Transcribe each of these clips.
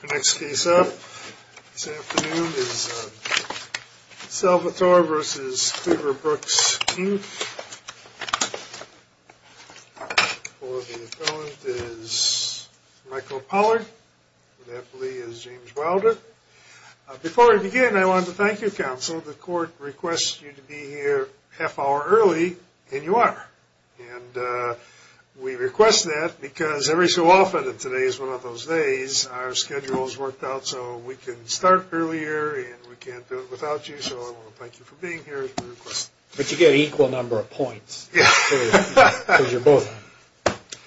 The next case up this afternoon is Salvatore v. Tudor Brooks, II. For the appellant is Michael Pollard. For the aptly is James Wilder. Before we begin, I wanted to thank you, counsel. The court requests you to be here a half hour early, and you are. And we request that because every so often, and today is one of those days, our schedule is worked out so we can start earlier, and we can't do it without you. So I want to thank you for being here. But you get an equal number of points. Yeah. Because you're both.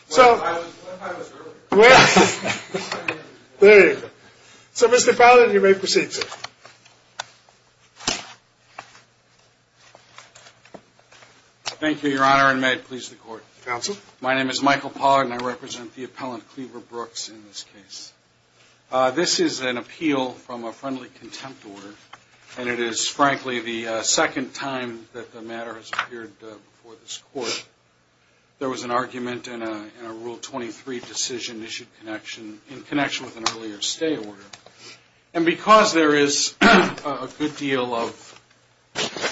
So, there you go. So, Mr. Pollard, you may proceed, sir. Thank you, Your Honor, and may it please the court. Counsel. My name is Michael Pollard, and I represent the appellant Cleaver Brooks in this case. This is an appeal from a friendly contempt order, and it is, frankly, the second time that the matter has appeared before this court. There was an argument in a Rule 23 decision issued in connection with an earlier stay order. And because there is a good deal of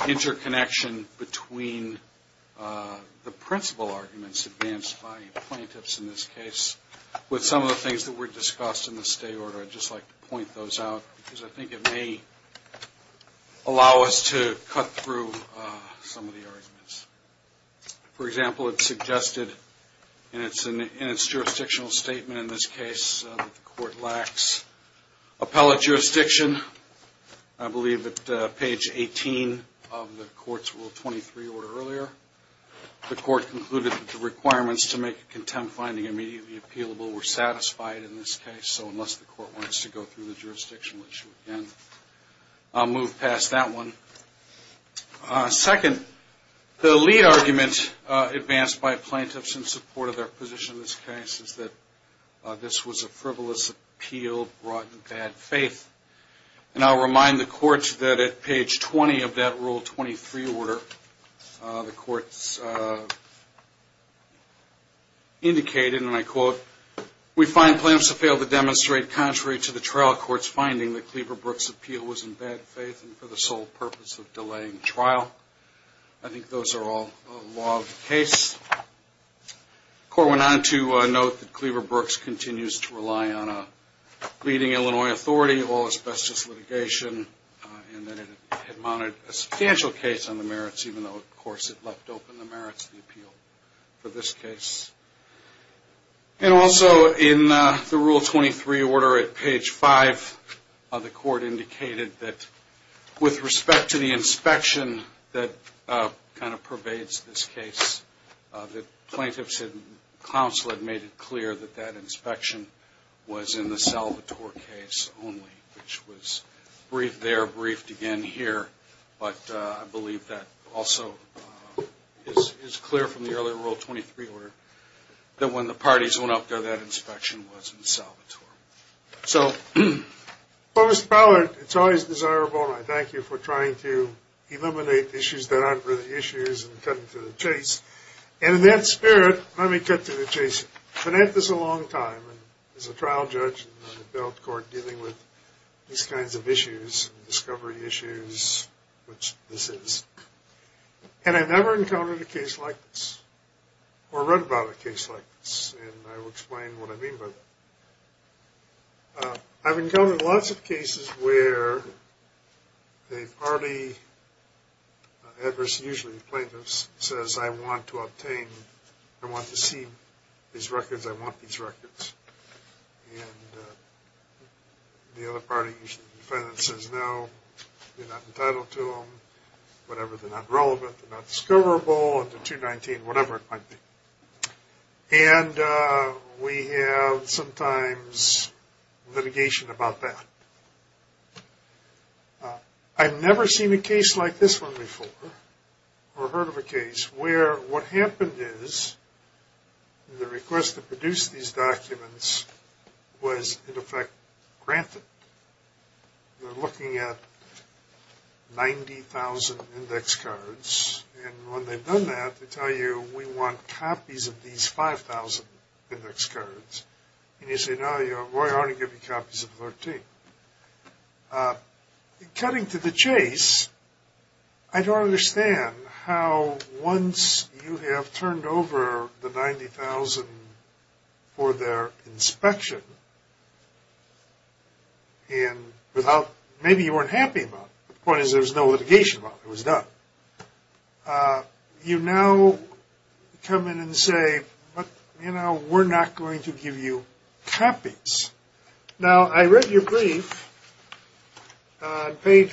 interconnection between the principal arguments advanced by the plaintiffs in this case with some of the things that were discussed in the stay order, I'd just like to point those out because I think it may allow us to cut through some of the arguments. For example, it suggested in its jurisdictional statement in this case that the court lacks appellate jurisdiction. I believe at page 18 of the court's Rule 23 order earlier, the court concluded that the requirements to make a contempt finding immediately appealable were satisfied in this case. So unless the court wants to go through the jurisdictional issue again, I'll move past that one. Second, the lead argument advanced by plaintiffs in support of their position in this case is that this was a frivolous appeal brought in bad faith. And I'll remind the court that at page 20 of that Rule 23 order, the court indicated, and I quote, We find plaintiffs have failed to demonstrate contrary to the trial court's finding that Cleaver Brooks' appeal was in bad faith and for the sole purpose of delaying trial. I think those are all law of the case. The court went on to note that Cleaver Brooks continues to rely on a leading Illinois authority, all asbestos litigation, and that it had mounted a substantial case on the merits, even though, of course, it left open the merits of the appeal for this case. And also in the Rule 23 order at page 5, the court indicated that with respect to the inspection that kind of pervades this case, that plaintiffs and counsel had made it clear that that inspection was in the Salvatore case only, which was briefed there, briefed again here. But I believe that also is clear from the earlier Rule 23 order that when the parties went up there, that inspection was in Salvatore. So, Mr. Pollard, it's always desirable, and I thank you for trying to eliminate issues that aren't really issues and cutting to the chase. And in that spirit, let me cut to the chase. I've been at this a long time as a trial judge in the bail court dealing with these kinds of issues, discovery issues, which this is. And I've never encountered a case like this or read about a case like this, and I will explain what I mean by that. I've encountered lots of cases where a party, adverse usually to plaintiffs, says, I want to obtain, I want to see these records, I want these records. And the other party, usually the defendant, says, no, you're not entitled to them, whatever, they're not relevant, they're not discoverable, and they're 219, whatever it might be. And we have sometimes litigation about that. I've never seen a case like this one before or heard of a case where what happened is the request to produce these documents was, in effect, granted. They're looking at 90,000 index cards, and when they've done that, they tell you, we want copies of these 5,000 index cards. And you say, no, we're going to give you copies of 13. Cutting to the chase, I don't understand how once you have turned over the 90,000 for their inspection, and without, maybe you weren't happy about it, the point is there was no litigation about it, it was done. You now come in and say, you know, we're not going to give you copies. Now, I read your brief. On page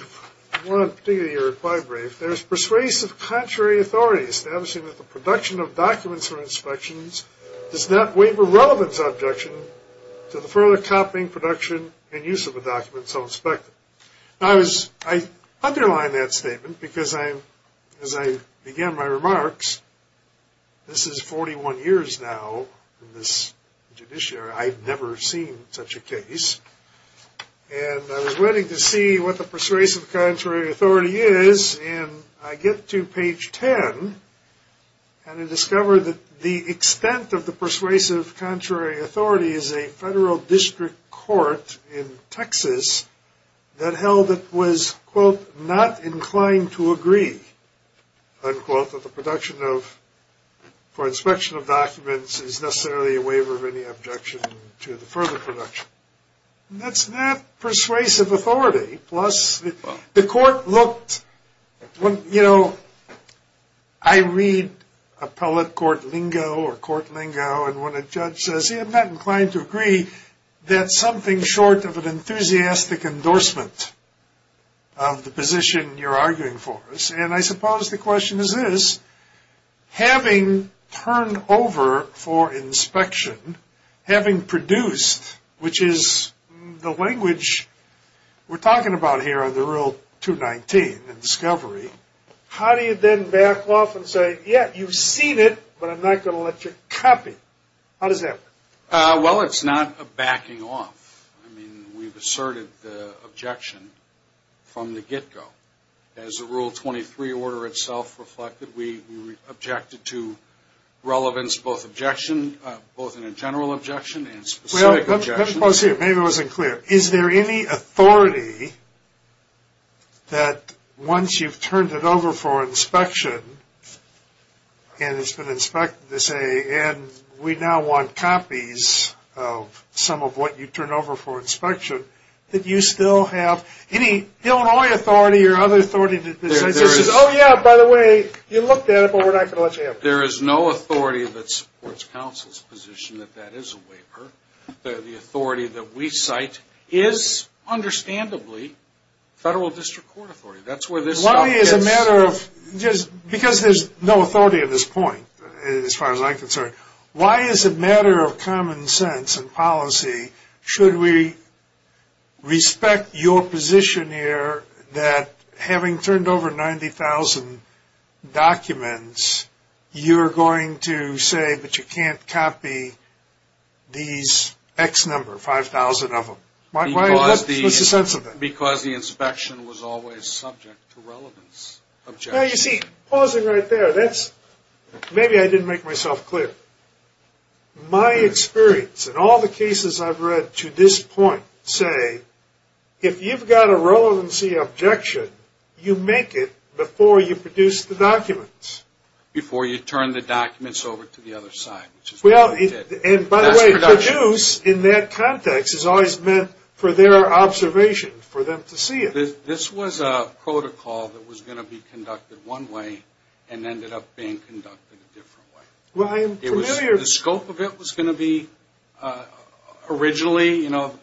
one, particularly your reply brief, there's persuasive contrary authority establishing that the production of documents for inspections does not waive a relevance objection to the further copying, production, and use of the documents so inspected. I underline that statement because, as I began my remarks, this is 41 years now in this judiciary. I've never seen such a case. And I was waiting to see what the persuasive contrary authority is, and I get to page 10, and I discover that the extent of the persuasive contrary authority is a federal district court in Texas that held it was, quote, not inclined to agree, unquote, that the production of, for inspection of documents is necessarily a waiver of any objection to the further production. That's not persuasive authority. The court looked, you know, I read appellate court lingo or court lingo, and when a judge says, I'm not inclined to agree, that's something short of an enthusiastic endorsement of the position you're arguing for. And I suppose the question is this. Having turned over for inspection, having produced, which is the language we're talking about here in the rule 219 in discovery, how do you then back off and say, yeah, you've seen it, but I'm not going to let you copy? How does that work? Well, it's not a backing off. I mean, we've asserted the objection from the get-go. As the rule 23 order itself reflected, we objected to relevance, both objection, both in a general objection and specific objection. Well, let me pause here. Maybe I wasn't clear. Is there any authority that once you've turned it over for inspection and it's been inspected to say, and we now want copies of some of what you turned over for inspection, that you still have any Illinois authority or other authority that says, oh, yeah, by the way, you looked at it, but we're not going to let you have it? There is no authority that supports counsel's position that that is a waiver. The authority that we cite is, understandably, federal district court authority. Why is it a matter of, because there's no authority at this point, as far as I'm concerned, why is it a matter of common sense and policy? Should we respect your position here that having turned over 90,000 documents, you're going to say that you can't copy these X number, 5,000 of them? Why? What's the sense of that? Because the inspection was always subject to relevance. You see, pausing right there, maybe I didn't make myself clear. My experience in all the cases I've read to this point say, if you've got a relevancy objection, you make it before you produce the documents. Before you turn the documents over to the other side, which is what we did. By the way, produce in that context is always meant for their observation, for them to see it. This was a protocol that was going to be conducted one way and ended up being conducted a different way. The scope of it was going to be originally, you know,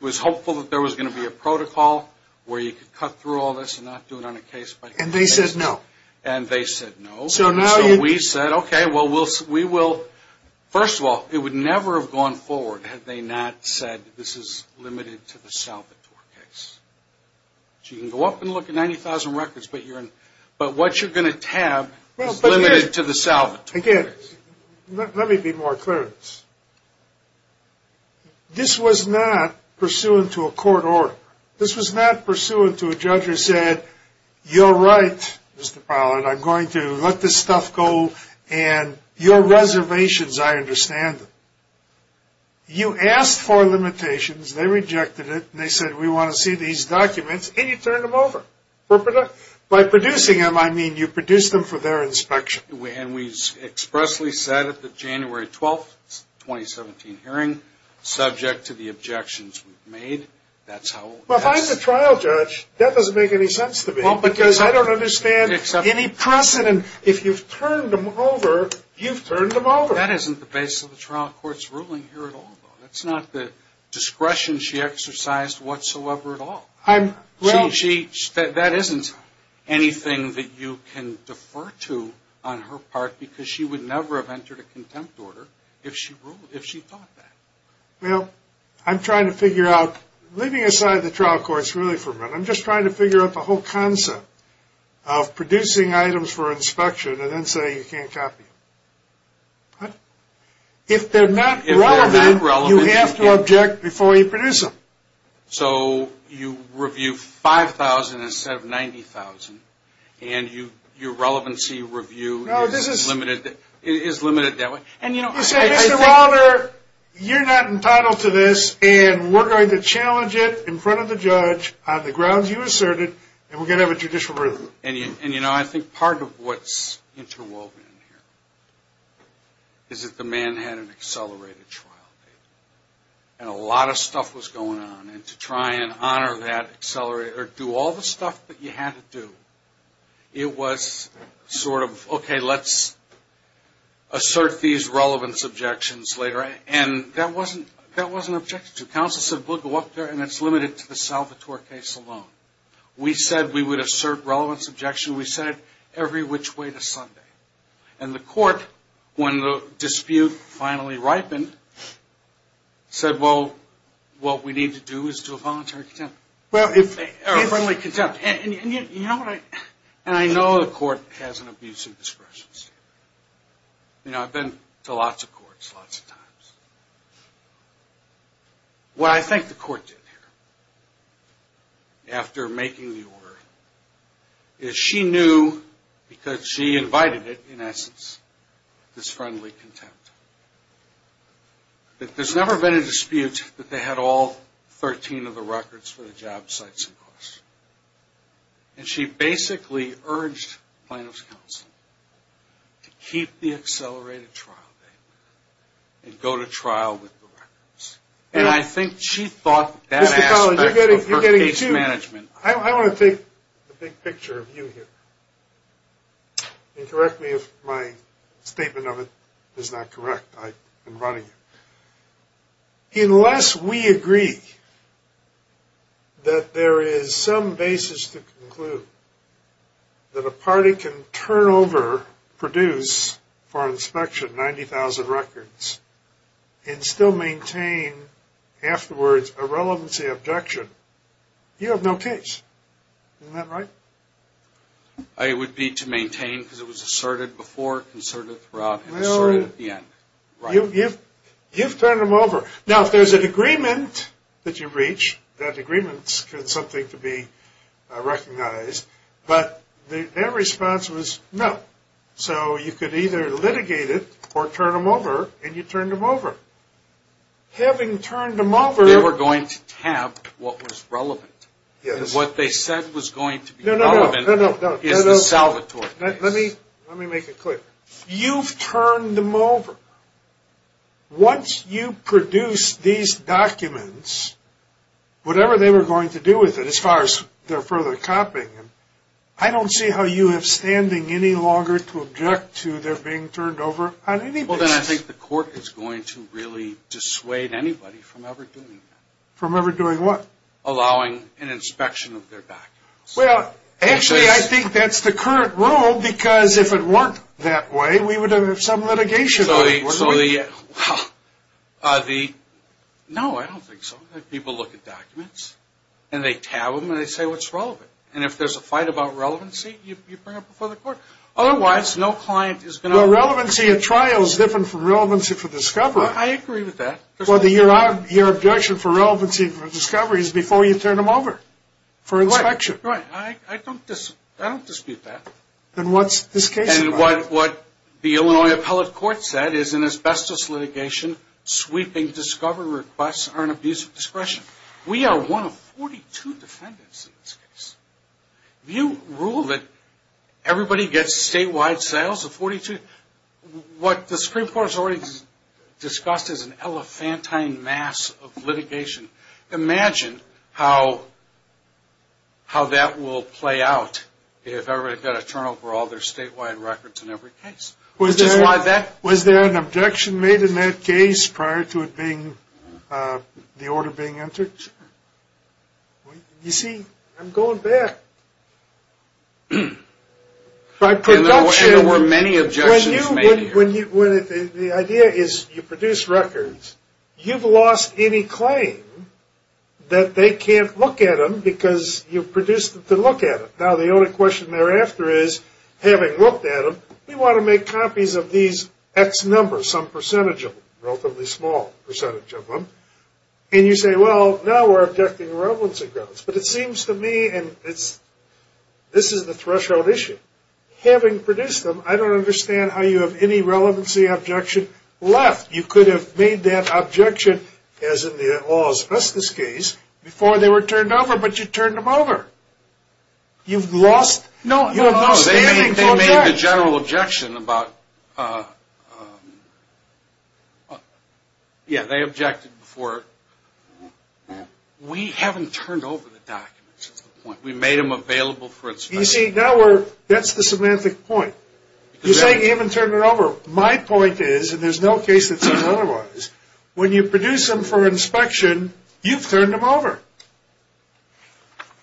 it was hopeful that there was going to be a protocol where you could cut through all this and not do it on a case by case basis. And they said no. And they said no. So we said, okay, well, we will, first of all, it would never have gone forward had they not said this is limited to the Salvatore case. So you can go up and look at 90,000 records, but what you're going to tab is limited to the Salvatore case. Again, let me be more clear. This was not pursuant to a court order. This was not pursuant to a judge who said, you're right, Mr. Pollard, I'm going to let this stuff go, and your reservations, I understand them. You asked for limitations, they rejected it, and they said we want to see these documents, and you turned them over. By producing them, I mean you produced them for their inspection. And we expressly said at the January 12th, 2017 hearing, subject to the objections we've made, that's how it was. Well, if I'm the trial judge, that doesn't make any sense to me because I don't understand any precedent. If you've turned them over, you've turned them over. That isn't the basis of the trial court's ruling here at all, though. That's not the discretion she exercised whatsoever at all. That isn't anything that you can defer to on her part because she would never have entered a contempt order if she thought that. Well, I'm trying to figure out, leaving aside the trial courts really for a minute, I'm just trying to figure out the whole concept of producing items for inspection and then saying you can't copy them. What? If they're not relevant, you have to object before you produce them. So you review 5,000 instead of 90,000, and your relevancy review is limited that way? You said, Mr. Wilder, you're not entitled to this, and we're going to challenge it in front of the judge on the grounds you asserted, and we're going to have a judicial review. And, you know, I think part of what's interwoven here is that the man had an accelerated trial date, and a lot of stuff was going on, and to try and honor that, accelerate, or do all the stuff that you had to do, it was sort of, okay, let's assert these relevance objections later. And that wasn't objected to. Counsel said, we'll go up there, and it's limited to the Salvatore case alone. We said we would assert relevance objection. We said it every which way to Sunday. And the court, when the dispute finally ripened, said, well, what we need to do is do a voluntary contempt. A friendly contempt. And I know the court has an abuse of discretion standard. You know, I've been to lots of courts lots of times. What I think the court did here, after making the order, is she knew, because she invited it, in essence, this friendly contempt. That there's never been a dispute that they had all 13 of the records for the job sites in question. And she basically urged plaintiff's counsel to keep the accelerated trial date and go to trial with the records. And I think she thought that aspect of her case management. I want to take a big picture of you here. And correct me if my statement of it is not correct. I'm running. Unless we agree that there is some basis to conclude that a party can turn over, produce, for inspection, 90,000 records, and still maintain afterwards a relevancy objection, you have no case. Isn't that right? It would be to maintain because it was asserted before, asserted throughout, and asserted at the end. You've turned them over. Now, if there's an agreement that you reach, that agreement is something to be recognized. But their response was no. So you could either litigate it or turn them over, and you turned them over. Having turned them over. They were going to tab what was relevant. And what they said was going to be relevant is the Salvatore case. Let me make it clear. You've turned them over. Once you produce these documents, whatever they were going to do with it, as far as their further copying, I don't see how you have standing any longer to object to their being turned over on any basis. Well, then I think the court is going to really dissuade anybody from ever doing that. From ever doing what? Allowing an inspection of their documents. Well, actually, I think that's the current rule because if it weren't that way, we would have some litigation. No, I don't think so. People look at documents, and they tab them, and they say what's relevant. And if there's a fight about relevancy, you bring it before the court. Otherwise, no client is going to – Well, relevancy at trial is different from relevancy for discovery. I agree with that. Well, your objection for relevancy for discovery is before you turn them over for inspection. Right, right. I don't dispute that. Then what's this case about? And what the Illinois appellate court said is an asbestos litigation, sweeping discovery requests are an abuse of discretion. We are one of 42 defendants in this case. You rule that everybody gets statewide sales of 42. What the Supreme Court has already discussed is an elephantine mass of litigation. Imagine how that will play out if everybody got to turn over all their statewide records in every case. Which is why that – Was there an objection made in that case prior to it being – the order being entered? You see, I'm going back. By production – And there were many objections made here. The idea is you produce records. You've lost any claim that they can't look at them because you produced them to look at them. Now, the only question thereafter is, having looked at them, we want to make copies of these X numbers, some percentage of them, relatively small percentage of them. And you say, well, now we're objecting to relevancy grounds. But it seems to me – and this is the threshold issue. Having produced them, I don't understand how you have any relevancy objection left. You could have made that objection, as in the oil asbestos case, before they were turned over. But you turned them over. You've lost – No, they made the general objection about – yeah, they objected before. We haven't turned over the documents is the point. We made them available for inspection. You see, that's the semantic point. You say you haven't turned them over. My point is, and there's no case that seems otherwise, when you produce them for inspection, you've turned them over.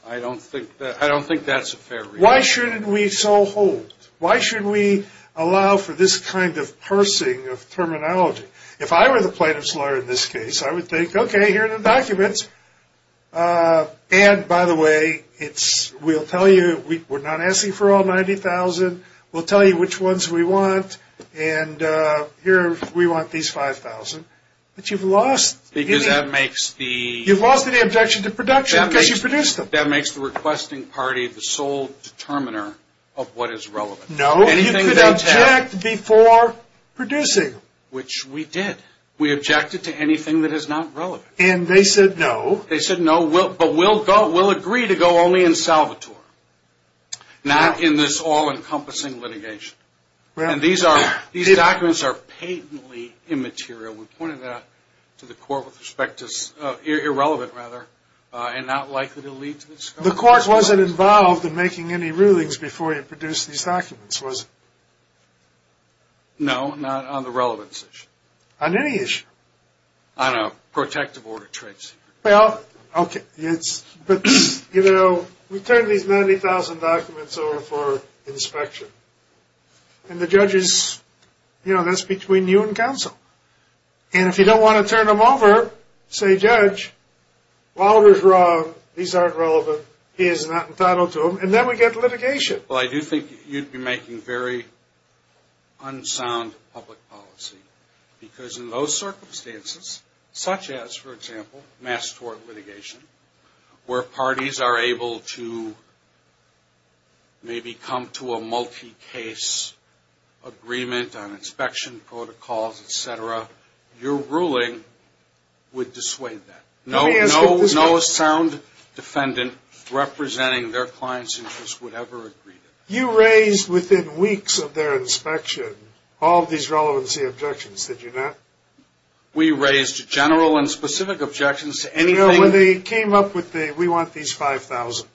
I don't think that's a fair reason. Why should we so hold? Why should we allow for this kind of parsing of terminology? If I were the plaintiff's lawyer in this case, I would think, okay, here are the documents. And, by the way, we'll tell you we're not asking for all 90,000. We'll tell you which ones we want. And here we want these 5,000. But you've lost – Because that makes the – You've lost the objection to production because you produced them. That makes the requesting party the sole determiner of what is relevant. No, you could object before producing. Which we did. We objected to anything that is not relevant. And they said no. They said no, but we'll agree to go only in Salvatore, not in this all-encompassing litigation. And these documents are patently immaterial. We pointed that out to the court with respect to – irrelevant, rather, and not likely to lead to – The court wasn't involved in making any rulings before you produced these documents, was it? No, not on the relevance issue. On any issue? On a protective order trade secret. Well, okay, it's – But, you know, we turned these 90,000 documents over for inspection. And the judges, you know, that's between you and counsel. And if you don't want to turn them over, say judge, Walter's wrong, these aren't relevant, he is not entitled to them, and then we get litigation. Well, I do think you'd be making very unsound public policy. Because in those circumstances, such as, for example, mass tort litigation, where parties are able to maybe come to a multi-case agreement on inspection protocols, et cetera, your ruling would dissuade that. No sound defendant representing their client's interests would ever agree to that. You raised, within weeks of their inspection, all of these relevancy objections, did you not? We raised general and specific objections to anything – No, when they came up with the, we want these 5,000.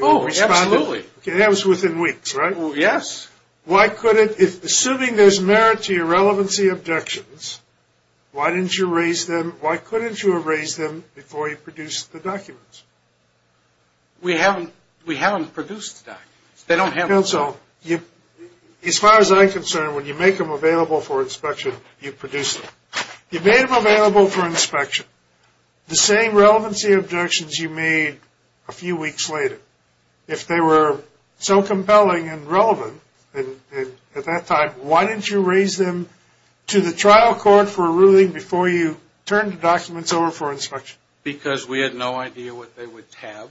Oh, absolutely. That was within weeks, right? Yes. Why couldn't – assuming there's merit to your relevancy objections, why didn't you raise them – why couldn't you have raised them before you produced the documents? We haven't produced the documents. Counsel, as far as I'm concerned, when you make them available for inspection, you produce them. You made them available for inspection. The same relevancy objections you made a few weeks later, if they were so compelling and relevant at that time, why didn't you raise them to the trial court for a ruling before you turned the documents over for inspection? Because we had no idea what they would tab.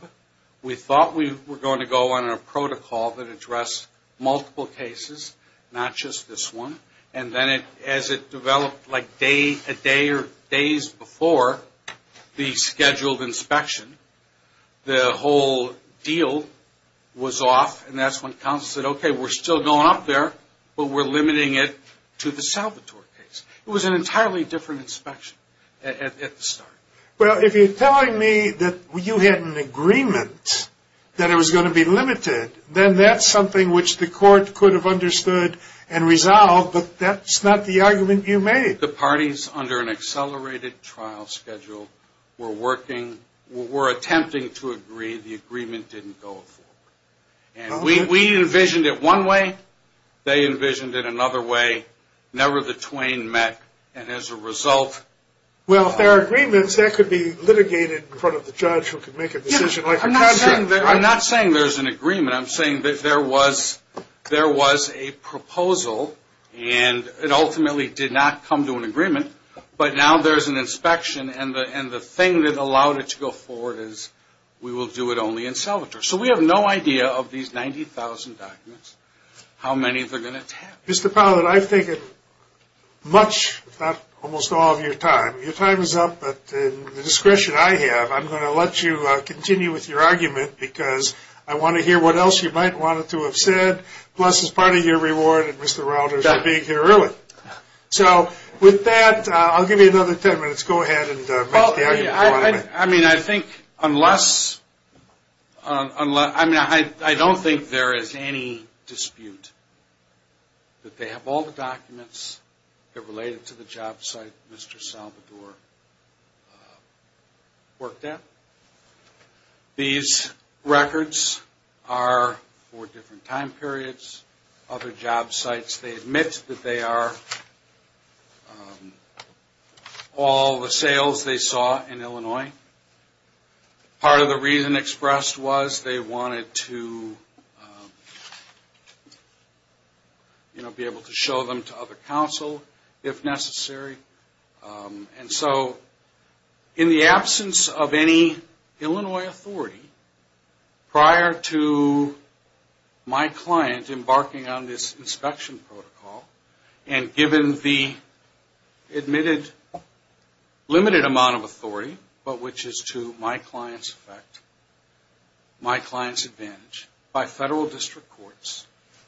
We thought we were going to go on a protocol that addressed multiple cases, not just this one. And then as it developed like a day or days before the scheduled inspection, the whole deal was off. And that's when counsel said, okay, we're still going up there, but we're limiting it to the Salvatore case. It was an entirely different inspection at the start. Well, if you're telling me that you had an agreement that it was going to be limited, then that's something which the court could have understood and resolved, but that's not the argument you made. The parties under an accelerated trial schedule were working – were attempting to agree. The agreement didn't go forward. And we envisioned it one way. They envisioned it another way. Never the twain met. And as a result – Well, if there are agreements, that could be litigated in front of the judge who could make a decision. I'm not saying there's an agreement. I'm saying that there was a proposal, and it ultimately did not come to an agreement. But now there's an inspection, and the thing that allowed it to go forward is we will do it only in Salvatore. So we have no idea of these 90,000 documents, how many they're going to tab. Mr. Powlett, I've taken much, if not almost all, of your time. Your time is up, but in the discretion I have, I'm going to let you continue with your argument because I want to hear what else you might want to have said, plus as part of your reward, and Mr. Rauder's for being here early. So with that, I'll give you another 10 minutes. Go ahead and make the argument. I mean, I think unless – I mean, I don't think there is any dispute that they have all the documents that related to the job site Mr. Salvatore worked at. These records are for different time periods, other job sites. They admit that they are all the sales they saw in Illinois. Part of the reason expressed was they wanted to be able to show them to other counsel if necessary. And so in the absence of any Illinois authority prior to my client embarking on this inspection protocol and given the limited amount of authority, but which is to my client's effect, my client's advantage by federal district courts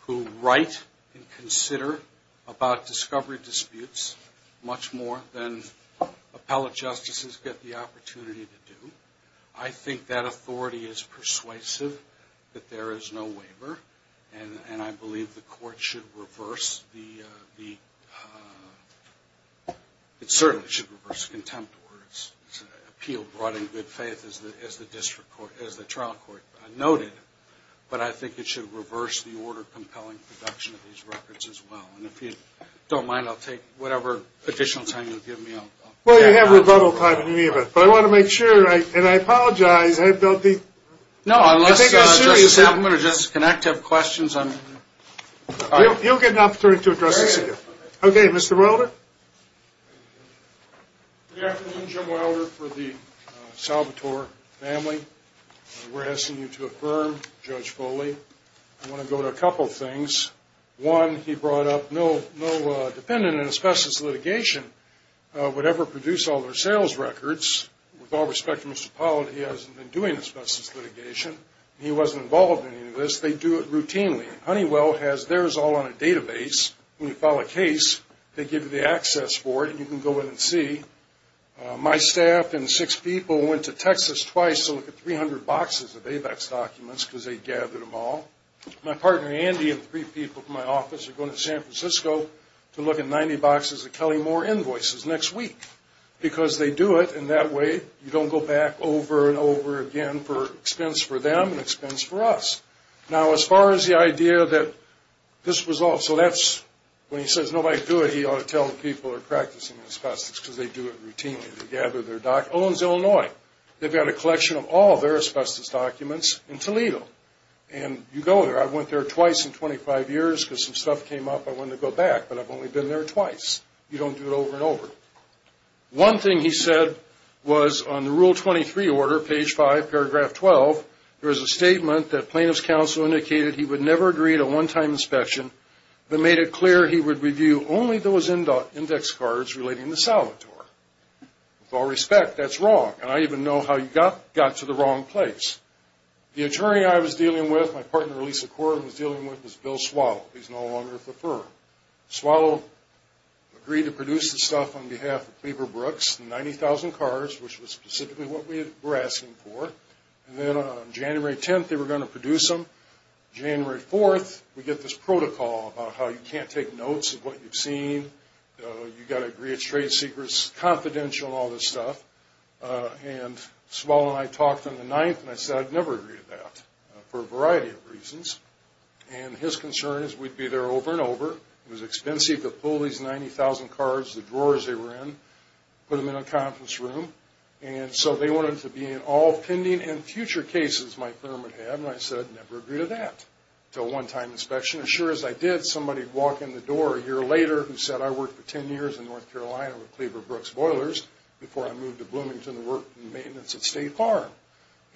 who write and consider about discovery disputes much more than appellate justices get the opportunity to do. I think that authority is persuasive, that there is no waiver, and I believe the court should reverse the – it certainly should reverse the contempt order. It's an appeal brought in good faith as the trial court noted, but I think it should reverse the order-compelling production of these records as well. And if you don't mind, I'll take whatever additional time you'll give me. Well, you have rebuttal time in any event. But I want to make sure, and I apologize, I don't think – No, unless Justice Appelman or Justice Connacht have questions, I'm – You'll get an opportunity to address this again. Okay, Mr. Wilder? Good afternoon, Jim Wilder for the Salvatore family. We're asking you to affirm Judge Foley. I want to go to a couple things. One, he brought up no defendant in asbestos litigation would ever produce all their sales records. With all respect to Mr. Powell, he hasn't been doing asbestos litigation. He wasn't involved in any of this. They do it routinely. Honeywell has theirs all on a database. When you file a case, they give you the access for it, and you can go in and see. My staff and six people went to Texas twice to look at 300 boxes of AVEX documents because they gathered them all. My partner, Andy, and three people from my office are going to San Francisco to look at 90 boxes of Kelly-Moore invoices next week because they do it, and that way you don't go back over and over again for expense for them and expense for us. Now, as far as the idea that this was all – so that's – when he says nobody do it, he ought to tell the people who are practicing asbestos because they do it routinely. They gather their documents. Owens, Illinois, they've got a collection of all their asbestos documents in Toledo. And you go there. I went there twice in 25 years because some stuff came up I wanted to go back, but I've only been there twice. You don't do it over and over. One thing he said was on the Rule 23 order, page 5, paragraph 12, there was a statement that plaintiff's counsel indicated he would never agree to a one-time inspection but made it clear he would review only those index cards relating to Salvatore. With all respect, that's wrong, and I even know how you got to the wrong place. The attorney I was dealing with, my partner Lisa Corwin was dealing with, was Bill Swallow. He's no longer with the firm. Swallow agreed to produce the stuff on behalf of Cleaver Brooks, 90,000 cards, which was specifically what we were asking for. And then on January 10th, they were going to produce them. January 4th, we get this protocol about how you can't take notes of what you've seen. You've got to agree it's trade secrets, confidential, all this stuff. And Swallow and I talked on the 9th, and I said I'd never agree to that for a variety of reasons. And his concern is we'd be there over and over. It was expensive to pull these 90,000 cards, the drawers they were in, put them in a conference room. And so they wanted to be in all pending and future cases my firm would have, and I said I'd never agree to that until a one-time inspection. As sure as I did, somebody would walk in the door a year later who said, I worked for 10 years in North Carolina with Cleaver Brooks Boilers before I moved to Bloomington to work in maintenance at State Farm.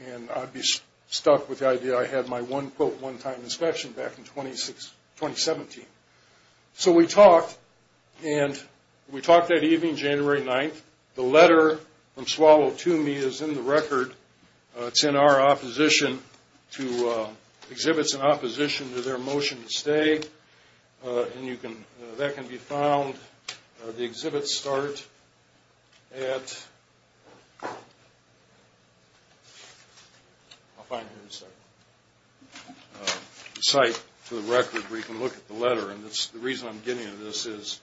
And I'd be stuck with the idea I had my one, quote, one-time inspection back in 2017. So we talked, and we talked that evening, January 9th. The letter from Swallow to me is in the record. It's in our opposition to exhibits in opposition to their motion to stay. And that can be found, the exhibits start at, I'll find it in a second, the site for the record where you can look at the letter. And the reason I'm getting at this is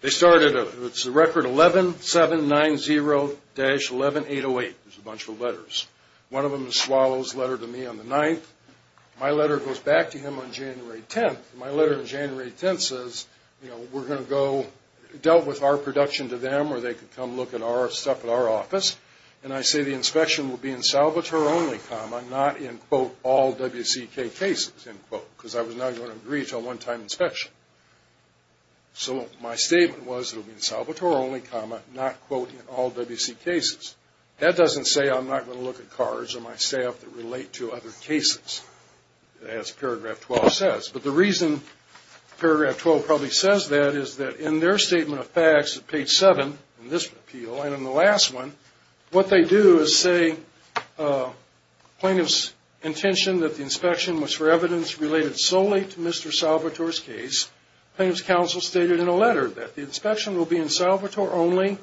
they started, it's the record 11790-11808. There's a bunch of letters. One of them is Swallow's letter to me on the 9th. My letter goes back to him on January 10th. My letter on January 10th says, you know, we're going to go, dealt with our production to them or they could come look at our stuff at our office. And I say the inspection will be in Salvatore only, comma, not in, quote, all WCK cases, end quote, because I was not going to agree to a one-time inspection. So my statement was it will be in Salvatore only, comma, not, quote, in all WCK cases. That doesn't say I'm not going to look at cards of my staff that relate to other cases, as paragraph 12 says. But the reason paragraph 12 probably says that is that in their statement of facts, page 7 in this appeal and in the last one, what they do is say plaintiff's intention that the inspection was for evidence related solely to Mr. Salvatore's case. Plaintiff's counsel stated in a letter that the inspection will be in Salvatore only,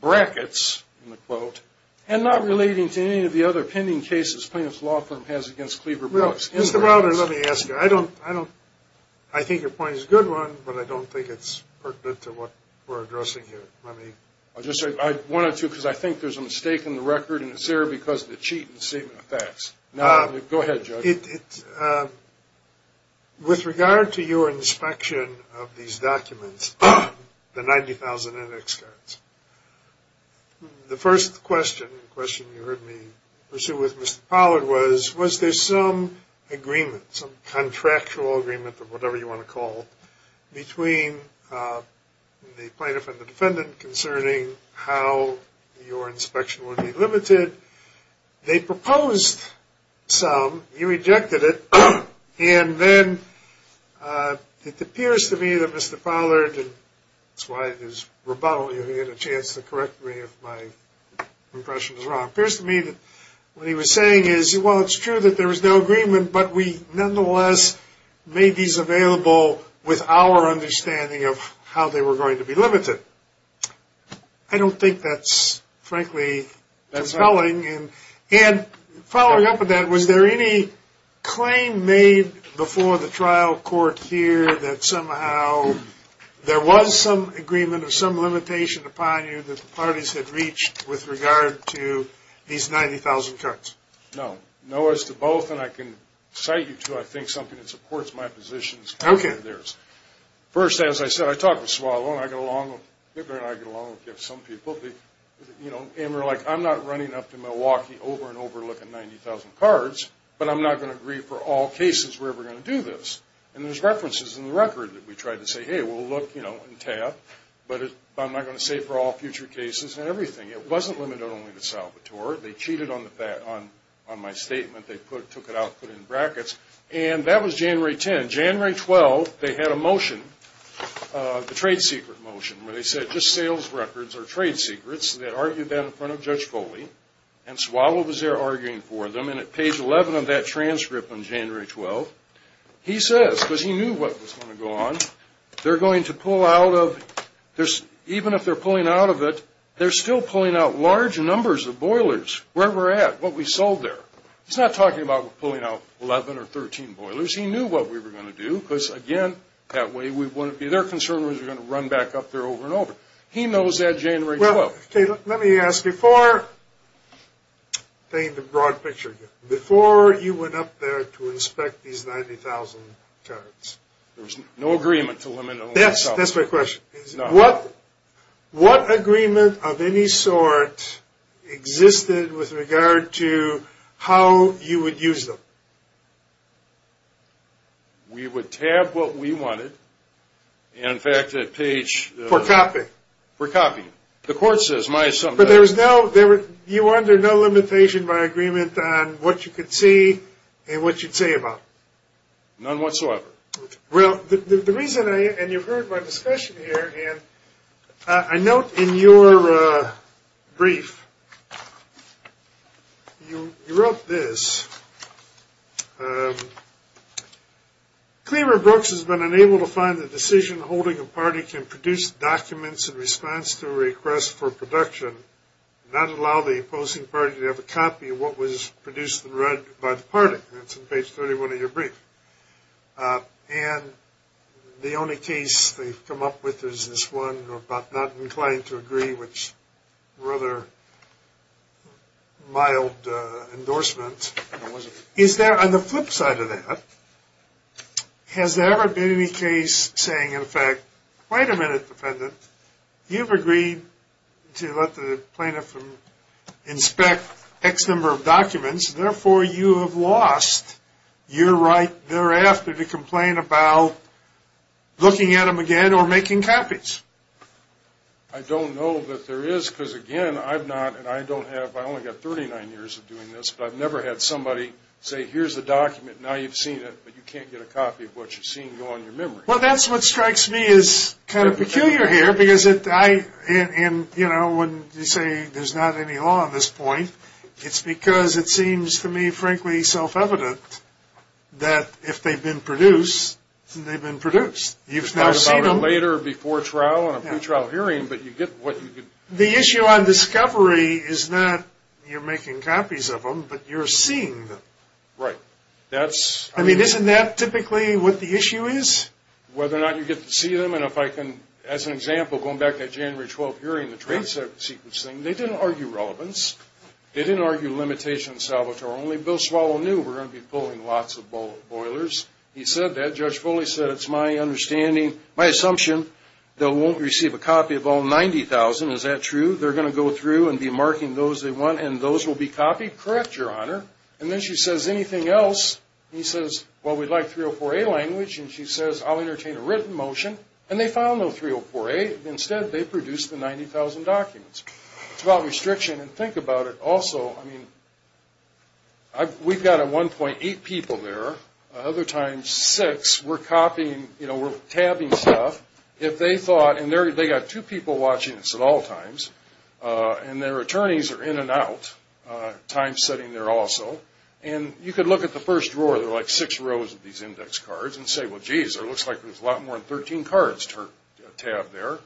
brackets, end quote, and not relating to any of the other pending cases plaintiff's law firm has against Cleaver Brooks. Mr. Browder, let me ask you, I don't, I think your point is a good one, but I don't think it's pertinent to what we're addressing here. Let me. I'll just say I wanted to because I think there's a mistake in the record and it's there because of the cheating statement of facts. Go ahead, Judge. With regard to your inspection of these documents, the 90,000 index cards, the first question you heard me pursue with Mr. Pollard was, was there some agreement, some contractual agreement, or whatever you want to call it, between the plaintiff and the defendant concerning how your inspection would be limited. They proposed some, you rejected it, and then it appears to me that Mr. Pollard, that's why his rebuttal, he had a chance to correct me if my impression was wrong, appears to me that what he was saying is, well, it's true that there was no agreement, but we nonetheless made these available with our understanding of how they were going to be limited. I don't think that's, frankly, compelling. Following up on that, was there any claim made before the trial court here that somehow there was some agreement or some limitation upon you that the parties had reached with regard to these 90,000 cards? No. No as to both, and I can cite you to, I think, something that supports my position. Okay. First, as I said, I talked with Swallow, and I get along with some people, and we're like, I'm not running up to Milwaukee over and over looking at 90,000 cards, but I'm not going to agree for all cases where we're going to do this. And there's references in the record that we tried to say, hey, we'll look and tap, but I'm not going to say for all future cases and everything. It wasn't limited only to Salvatore. They cheated on my statement. They took it out and put it in brackets. And that was January 10. And January 12, they had a motion, the trade secret motion, where they said just sales records are trade secrets, and they argued that in front of Judge Foley. And Swallow was there arguing for them, and at page 11 of that transcript on January 12, he says, because he knew what was going to go on, they're going to pull out of, even if they're pulling out of it, they're still pulling out large numbers of boilers, where we're at, what we sold there. He's not talking about pulling out 11 or 13 boilers. He knew what we were going to do, because, again, that way we wouldn't be their concern. We were going to run back up there over and over. He knows that January 12. Let me ask you, before you went up there to inspect these 90,000 carts. There was no agreement to limit them. That's my question. No. What agreement of any sort existed with regard to how you would use them? We would tab what we wanted. And, in fact, at page... For copying. For copying. The court says my assumption... But there was no... You were under no limitation by agreement on what you could see and what you'd say about. None whatsoever. Well, the reason I... and you've heard my discussion here... And I note in your brief, you wrote this. Cleaver Brooks has been unable to find the decision holding a party can produce documents in response to a request for production, not allow the opposing party to have a copy of what was produced and read by the party. That's in page 31 of your brief. And the only case they've come up with is this one about not inclined to agree, which is a rather mild endorsement. Is there, on the flip side of that, has there ever been any case saying, in fact, wait a minute, defendant, you've agreed to let the plaintiff inspect X number of documents, therefore you have lost your right thereafter to complain about looking at them again or making copies? I don't know that there is because, again, I've not... And I don't have... I've only got 39 years of doing this, but I've never had somebody say, here's the document, now you've seen it, but you can't get a copy of what you've seen go on your memory. Well, that's what strikes me as kind of peculiar here because I... And, you know, when you say there's not any law on this point, it's because it seems to me, frankly, self-evident that if they've been produced, then they've been produced. You've thought about it later, before trial, on a pretrial hearing, but you get what you get. The issue on discovery is not you're making copies of them, but you're seeing them. Right. I mean, isn't that typically what the issue is? Whether or not you get to see them. And if I can, as an example, going back to that January 12 hearing, regarding the trade sequence thing, they didn't argue relevance. They didn't argue limitation of Salvatore. Only Bill Swallow knew we were going to be pulling lots of boilers. He said that. Judge Foley said, it's my understanding, my assumption, they won't receive a copy of all 90,000. Is that true? They're going to go through and be marking those they want, and those will be copied? Correct, Your Honor. And then she says, anything else? He says, well, we'd like 304A language. And she says, I'll entertain a written motion. And they found no 304A. Instead, they produced the 90,000 documents. It's about restriction. And think about it. Also, I mean, we've got 1.8 people there. Other times, six. We're copying, you know, we're tabbing stuff. If they thought, and they've got two people watching this at all times, and their attorneys are in and out, time setting there also. And you could look at the first drawer, there are like six rows of these index cards, and say, well, geez, it looks like there's a lot more than 13 cards tabbed there.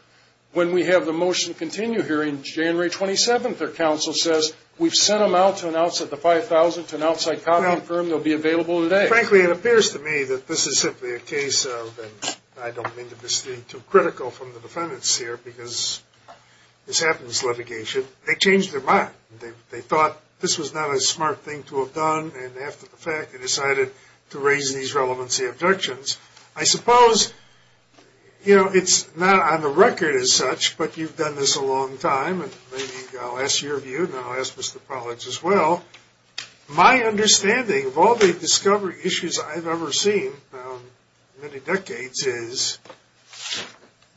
When we have the motion to continue hearing January 27th, their counsel says, we've sent them out to announce that the 5,000 to an outside copying firm, they'll be available today. Frankly, it appears to me that this is simply a case of, and I don't mean to be too critical from the defendants here, because this happened in this litigation. They changed their mind. They thought this was not a smart thing to have done. And after the fact, they decided to raise these relevancy objections. I suppose, you know, it's not on the record as such, but you've done this a long time. And maybe I'll ask your view, and then I'll ask Mr. Pollack's as well. My understanding of all the discovery issues I've ever seen in many decades is,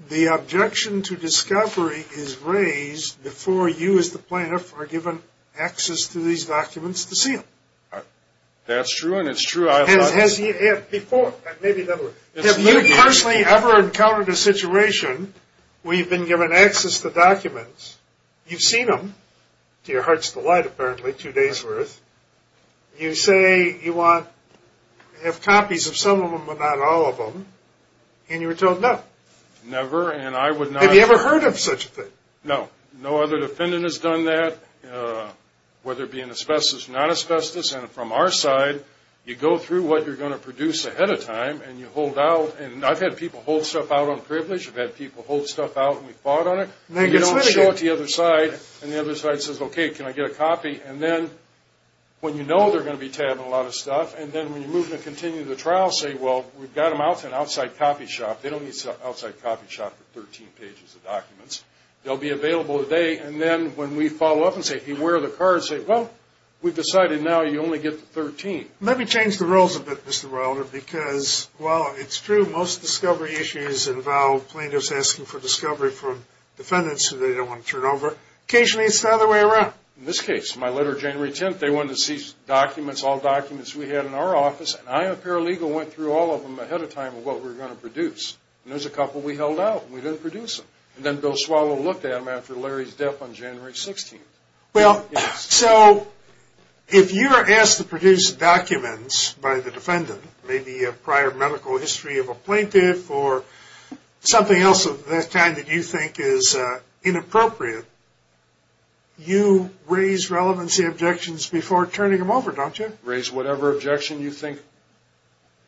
the objection to discovery is raised before you, as the plaintiff, are given access to these documents to see them. That's true, and it's true. Has he ever before? Have you personally ever encountered a situation where you've been given access to documents, you've seen them, to your heart's delight, apparently, two days' worth, you say you want to have copies of some of them but not all of them, and you're told no? Never, and I would not. Have you ever heard of such a thing? No. No other defendant has done that, whether it be in asbestos or not asbestos. And from our side, you go through what you're going to produce ahead of time, and you hold out. And I've had people hold stuff out on privilege. I've had people hold stuff out, and we fought on it. And they don't show it to the other side. And the other side says, okay, can I get a copy? And then when you know they're going to be tabbing a lot of stuff, and then when you move to continue the trial, say, well, we've got them out, it's an outside copy shop. They don't need an outside copy shop for 13 pages of documents. They'll be available today. And then when we follow up and say, where are the cards, say, well, we've decided now you only get the 13. Maybe change the rules a bit, Mr. Wilder, because, well, it's true, most discovery issues involve plaintiffs asking for discovery from defendants who they don't want to turn over. Occasionally it's the other way around. In this case, my letter January 10th, they wanted to seize documents, all documents we had in our office, and I, a paralegal, went through all of them ahead of time of what we were going to produce. And there's a couple we held out and we didn't produce them. And then Bill Swallow looked at them after Larry's death on January 16th. Well, so if you're asked to produce documents by the defendant, maybe a prior medical history of a plaintiff or something else of that kind that you think is inappropriate, you raise relevancy objections before turning them over, don't you? Raise whatever objection you think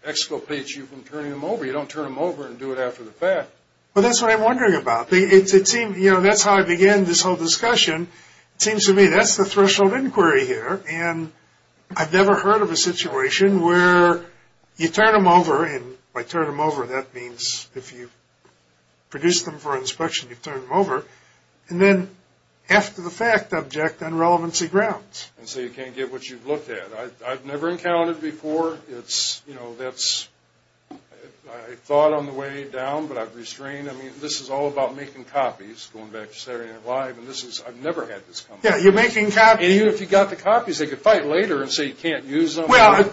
exculpates you from turning them over. You don't turn them over and do it after the fact. Well, that's what I'm wondering about. That's how I began this whole discussion. It seems to me that's the threshold inquiry here, and I've never heard of a situation where you turn them over, and by turn them over that means if you produce them for inspection, you turn them over, and then after the fact object on relevancy grounds. And so you can't get what you've looked at. I've never encountered before. It's, you know, that's, I thought on the way down, but I've restrained. I mean, this is all about making copies, going back to Saturday Night Live, and this is, I've never had this come up. Yeah, you're making copies. And even if you got the copies, they could fight later and say you can't use them. Well, of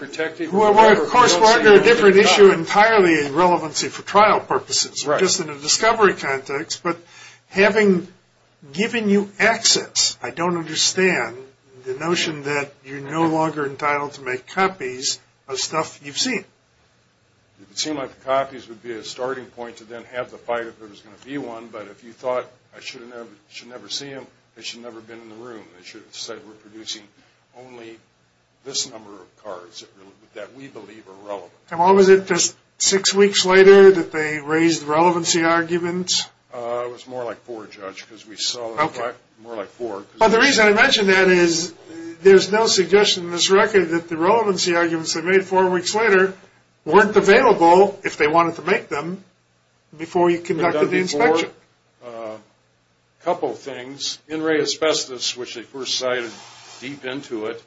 course, we're under a different issue entirely in relevancy for trial purposes, just in a discovery context. But having given you access, I don't understand the notion that you're no longer entitled to make copies of stuff you've seen. It would seem like the copies would be a starting point to then have the fight if there was going to be one, but if you thought I should never see them, they should never have been in the room. They should have said we're producing only this number of cards that we believe are relevant. And what was it, just six weeks later, that they raised relevancy arguments? It was more like four, Judge, because we saw them in the back. More like four. But the reason I mention that is there's no suggestion in this record that the relevancy arguments they made four weeks later weren't available, if they wanted to make them, before you conducted the inspection. They've done before a couple things. In-ray asbestos, which they first cited deep into it,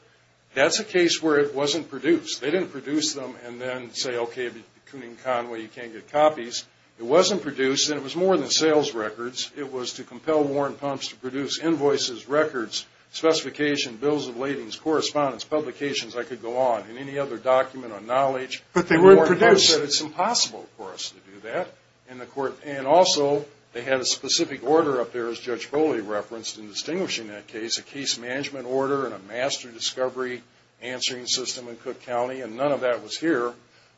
that's a case where it wasn't produced. They didn't produce them and then say, okay, Kooning Conway, you can't get copies. It wasn't produced, and it was more than sales records. It was to compel Warren Pumphs to produce invoices, records, specifications, bills of ladings, correspondence, publications, I could go on, and any other document on knowledge. But they weren't produced. And Warren Pumphs said it's impossible for us to do that. And also they had a specific order up there, as Judge Bolli referenced, in distinguishing that case, a case management order and a master discovery answering system in Cook County, and none of that was here.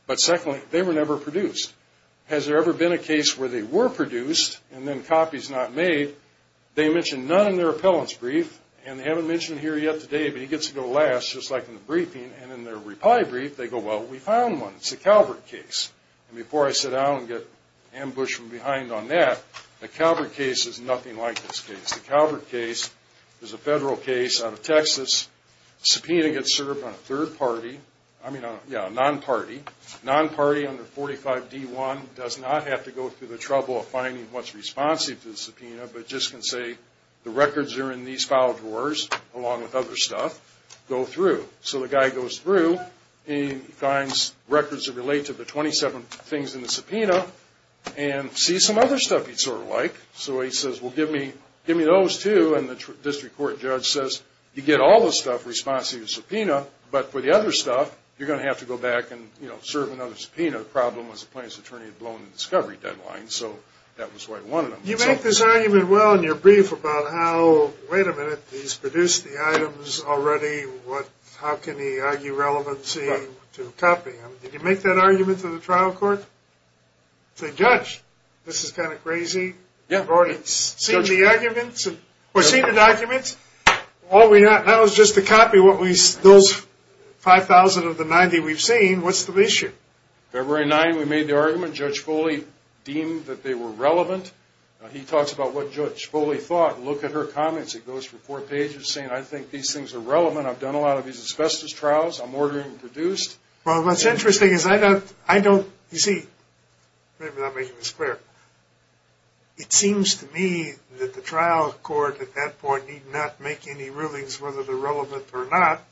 But secondly, they were never produced. Has there ever been a case where they were produced and then copies not made? They mention none in their appellant's brief, and they haven't mentioned it here yet today, but he gets to go last, just like in the briefing. And in their reply brief, they go, well, we found one. It's a Calvert case. And before I sit down and get ambushed from behind on that, the Calvert case is nothing like this case. The Calvert case is a federal case out of Texas. Subpoena gets served on a third party, I mean, yeah, a non-party. Non-party under 45D1 does not have to go through the trouble of finding what's responsive to the subpoena, but just can say the records are in these file drawers, along with other stuff, go through. So the guy goes through and he finds records that relate to the 27 things in the subpoena and sees some other stuff he'd sort of like. So he says, well, give me those two. And the district court judge says, you get all the stuff responsive to subpoena, but for the other stuff, you're going to have to go back and serve another subpoena. The problem was the plaintiff's attorney had blown the discovery deadline, so that was why he wanted them. You make this argument well in your brief about how, wait a minute, he's produced the items already. How can he argue relevancy to a copy? Did you make that argument to the trial court? Say, judge, this is kind of crazy. You've already seen the arguments, or seen the documents. That was just a copy of those 5,000 of the 90 we've seen. What's the issue? February 9, we made the argument. Judge Foley deemed that they were relevant. He talks about what Judge Foley thought. Look at her comments. It goes for four pages saying, I think these things are relevant. I'm ordering them produced. Well, what's interesting is I don't, you see, maybe I'm not making this clear. It seems to me that the trial court at that point need not make any rulings whether they're relevant or not.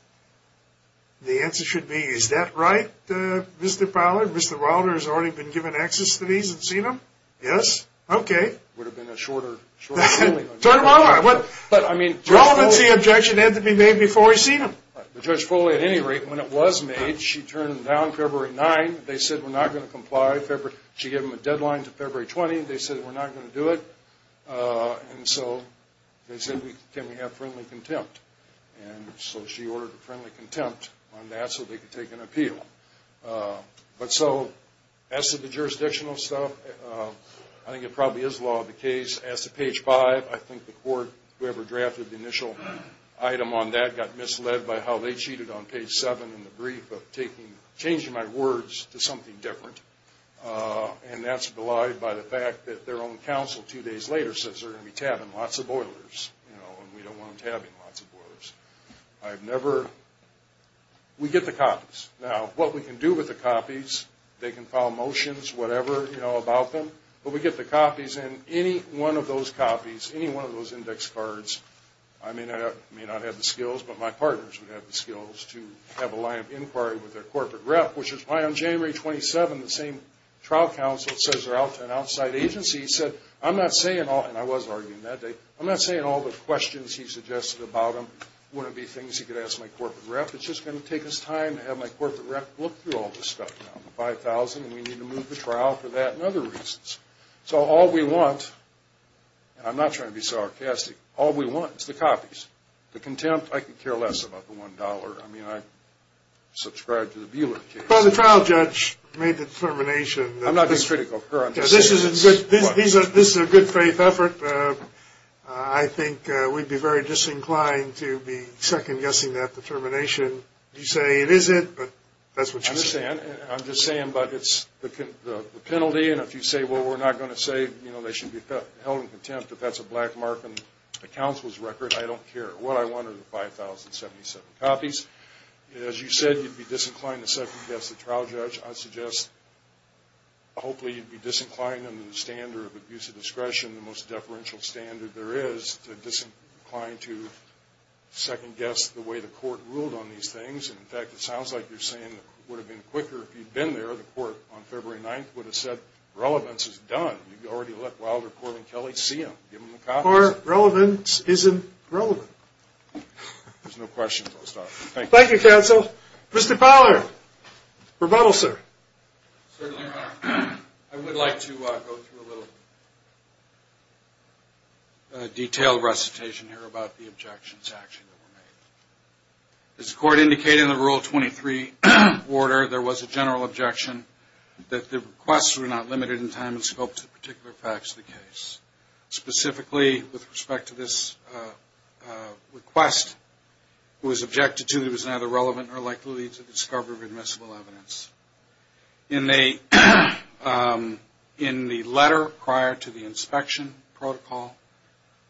The answer should be, is that right, Mr. Powler? Mr. Wilder has already been given access to these and seen them? Yes? Okay. Would have been a shorter ruling. Turn them over. Relevancy objection had to be made before he seen them. But Judge Foley, at any rate, when it was made, she turned them down February 9. They said, we're not going to comply. She gave them a deadline to February 20. They said, we're not going to do it. And so they said, can we have friendly contempt? And so she ordered a friendly contempt on that so they could take an appeal. But so, as to the jurisdictional stuff, I think it probably is law of the case. As to page 5, I think the court, whoever drafted the initial item on that, got misled by how they cheated on page 7 in the brief of changing my words to something different. And that's belied by the fact that their own counsel two days later says they're going to be tabbing lots of boilers. You know, and we don't want them tabbing lots of boilers. I've never, we get the copies. Now, what we can do with the copies, they can file motions, whatever, you know, about them. But we get the copies, and any one of those copies, any one of those index cards, I may not have the skills, but my partners would have the skills to have a line of inquiry with their corporate rep, which is why on January 27, the same trial counsel that says they're out to an outside agency said, I'm not saying all, and I was arguing that day, I'm not saying all the questions he suggested about them wouldn't be things he could ask my corporate rep. It's just going to take us time to have my corporate rep look through all this stuff. And we need to move the trial for that and other reasons. So all we want, and I'm not trying to be sarcastic, all we want is the copies. The contempt, I could care less about the $1. I mean, I subscribe to the Beeler case. Well, the trial judge made the determination that this is a good faith effort. I think we'd be very disinclined to be second-guessing that determination. You say it isn't, but that's what you say. I understand. I'm just saying, but it's the penalty, and if you say, well, we're not going to say, you know, they should be held in contempt, if that's a black mark on the counsel's record, I don't care. What I want are the 5,077 copies. As you said, you'd be disinclined to second-guess the trial judge. I suggest, hopefully, you'd be disinclined under the standard of abuse of discretion, the most deferential standard there is, to disincline to second-guess the way the court ruled on these things. In fact, it sounds like you're saying it would have been quicker if you'd been there. The court on February 9th would have said, relevance is done. You've already let Wilder, Corley, and Kelly see them, give them the copies. Or relevance isn't relevant. There's no questions. I'll stop. Thank you. Thank you, counsel. Mr. Fowler, rebuttal, sir. Certainly, I would like to go through a little detailed recitation here about the objections actually that were made. As the court indicated in the Rule 23 order, there was a general objection that the requests were not limited in time and scope to the particular facts of the case. Specifically, with respect to this request, it was objected to that it was neither relevant nor likely to discover admissible evidence. In the letter prior to the inspection protocol,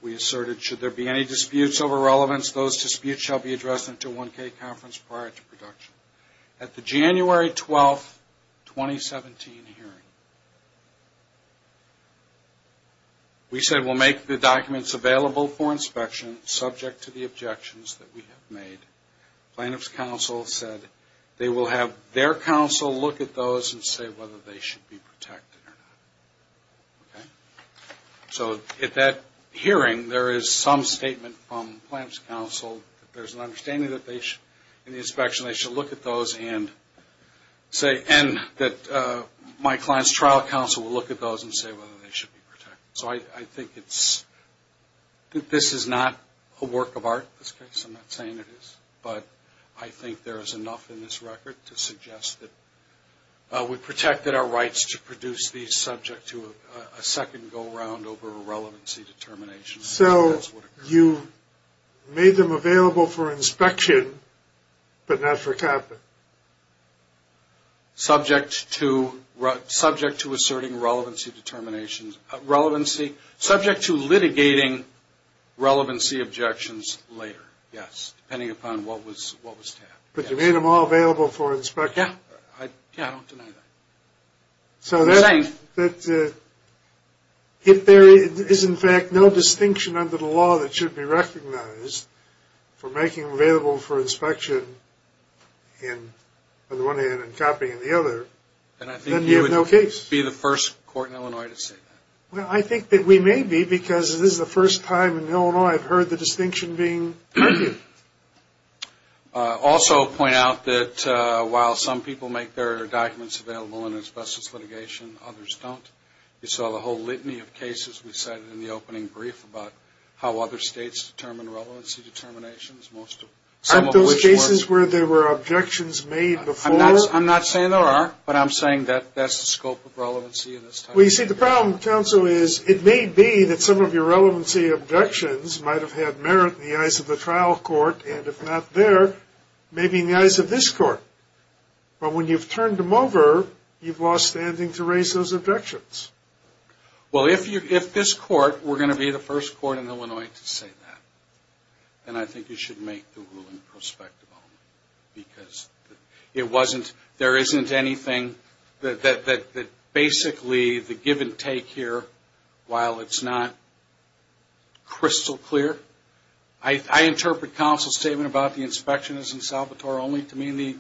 we asserted, should there be any disputes over relevance, those disputes shall be addressed at the 1K conference prior to production. At the January 12th, 2017 hearing, we said we'll make the documents available for inspection, subject to the objections that we have made. Plaintiff's counsel said they will have their counsel look at those and say whether they should be protected or not. So at that hearing, there is some statement from plaintiff's counsel that there's an understanding that in the inspection, they should look at those and that my client's trial counsel will look at those and say whether they should be protected. So I think this is not a work of art in this case. I'm not saying it is. But I think there is enough in this record to suggest that we protected our rights to produce these subject to a second go-round over a relevancy determination. So you made them available for inspection, but not for TAP? Subject to asserting relevancy determinations. Subject to litigating relevancy objections later, yes, depending upon what was TAP. But you made them all available for inspection? Yeah, I don't deny that. So if there is, in fact, no distinction under the law that should be recognized for making them available for inspection in one hand and copying in the other, then you have no case. And I think you would be the first court in Illinois to say that. Well, I think that we may be because this is the first time in Illinois I've heard the distinction being made. I'll also point out that while some people make their documents available in asbestos litigation, others don't. You saw the whole litany of cases we cited in the opening brief about how other states determine relevancy determinations. Aren't those cases where there were objections made before? I'm not saying there are, but I'm saying that that's the scope of relevancy in this case. Well, you see, the problem, counsel, is it may be that some of your relevancy objections might have had merit in the eyes of the trial court, and if not there, maybe in the eyes of this court. But when you've turned them over, you've lost standing to raise those objections. Well, if this court were going to be the first court in Illinois to say that, then I think you should make the ruling prospectible. Because it wasn't, there isn't anything that basically the give and take here, while it's not crystal clear, I interpret counsel's statement about the inspection is in Salvatore only to mean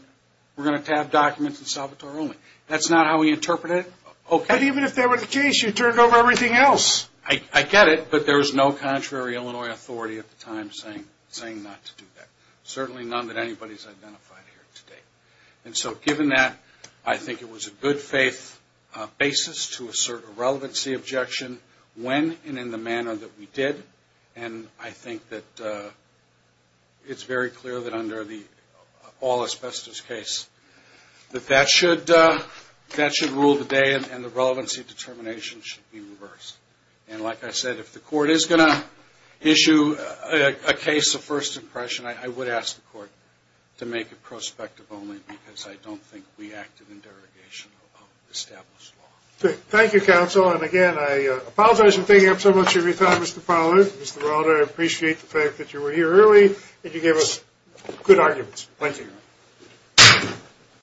we're going to tab documents in Salvatore only. That's not how we interpret it. But even if that were the case, you turned over everything else. I get it, but there was no contrary Illinois authority at the time saying not to do that. Certainly none that anybody's identified here today. And so given that, I think it was a good faith basis to assert a relevancy objection when and in the manner that we did. And I think that it's very clear that under the all asbestos case that that should rule the day and the relevancy determination should be reversed. And like I said, if the court is going to issue a case of first impression, I would ask the court to make it prospective only because I don't think we acted in derogation of established law. Thank you, counsel. And again, I apologize for taking up so much of your time, Mr. Fowler. Mr. Veralde, I appreciate the fact that you were here early and you gave us good arguments. Thank you.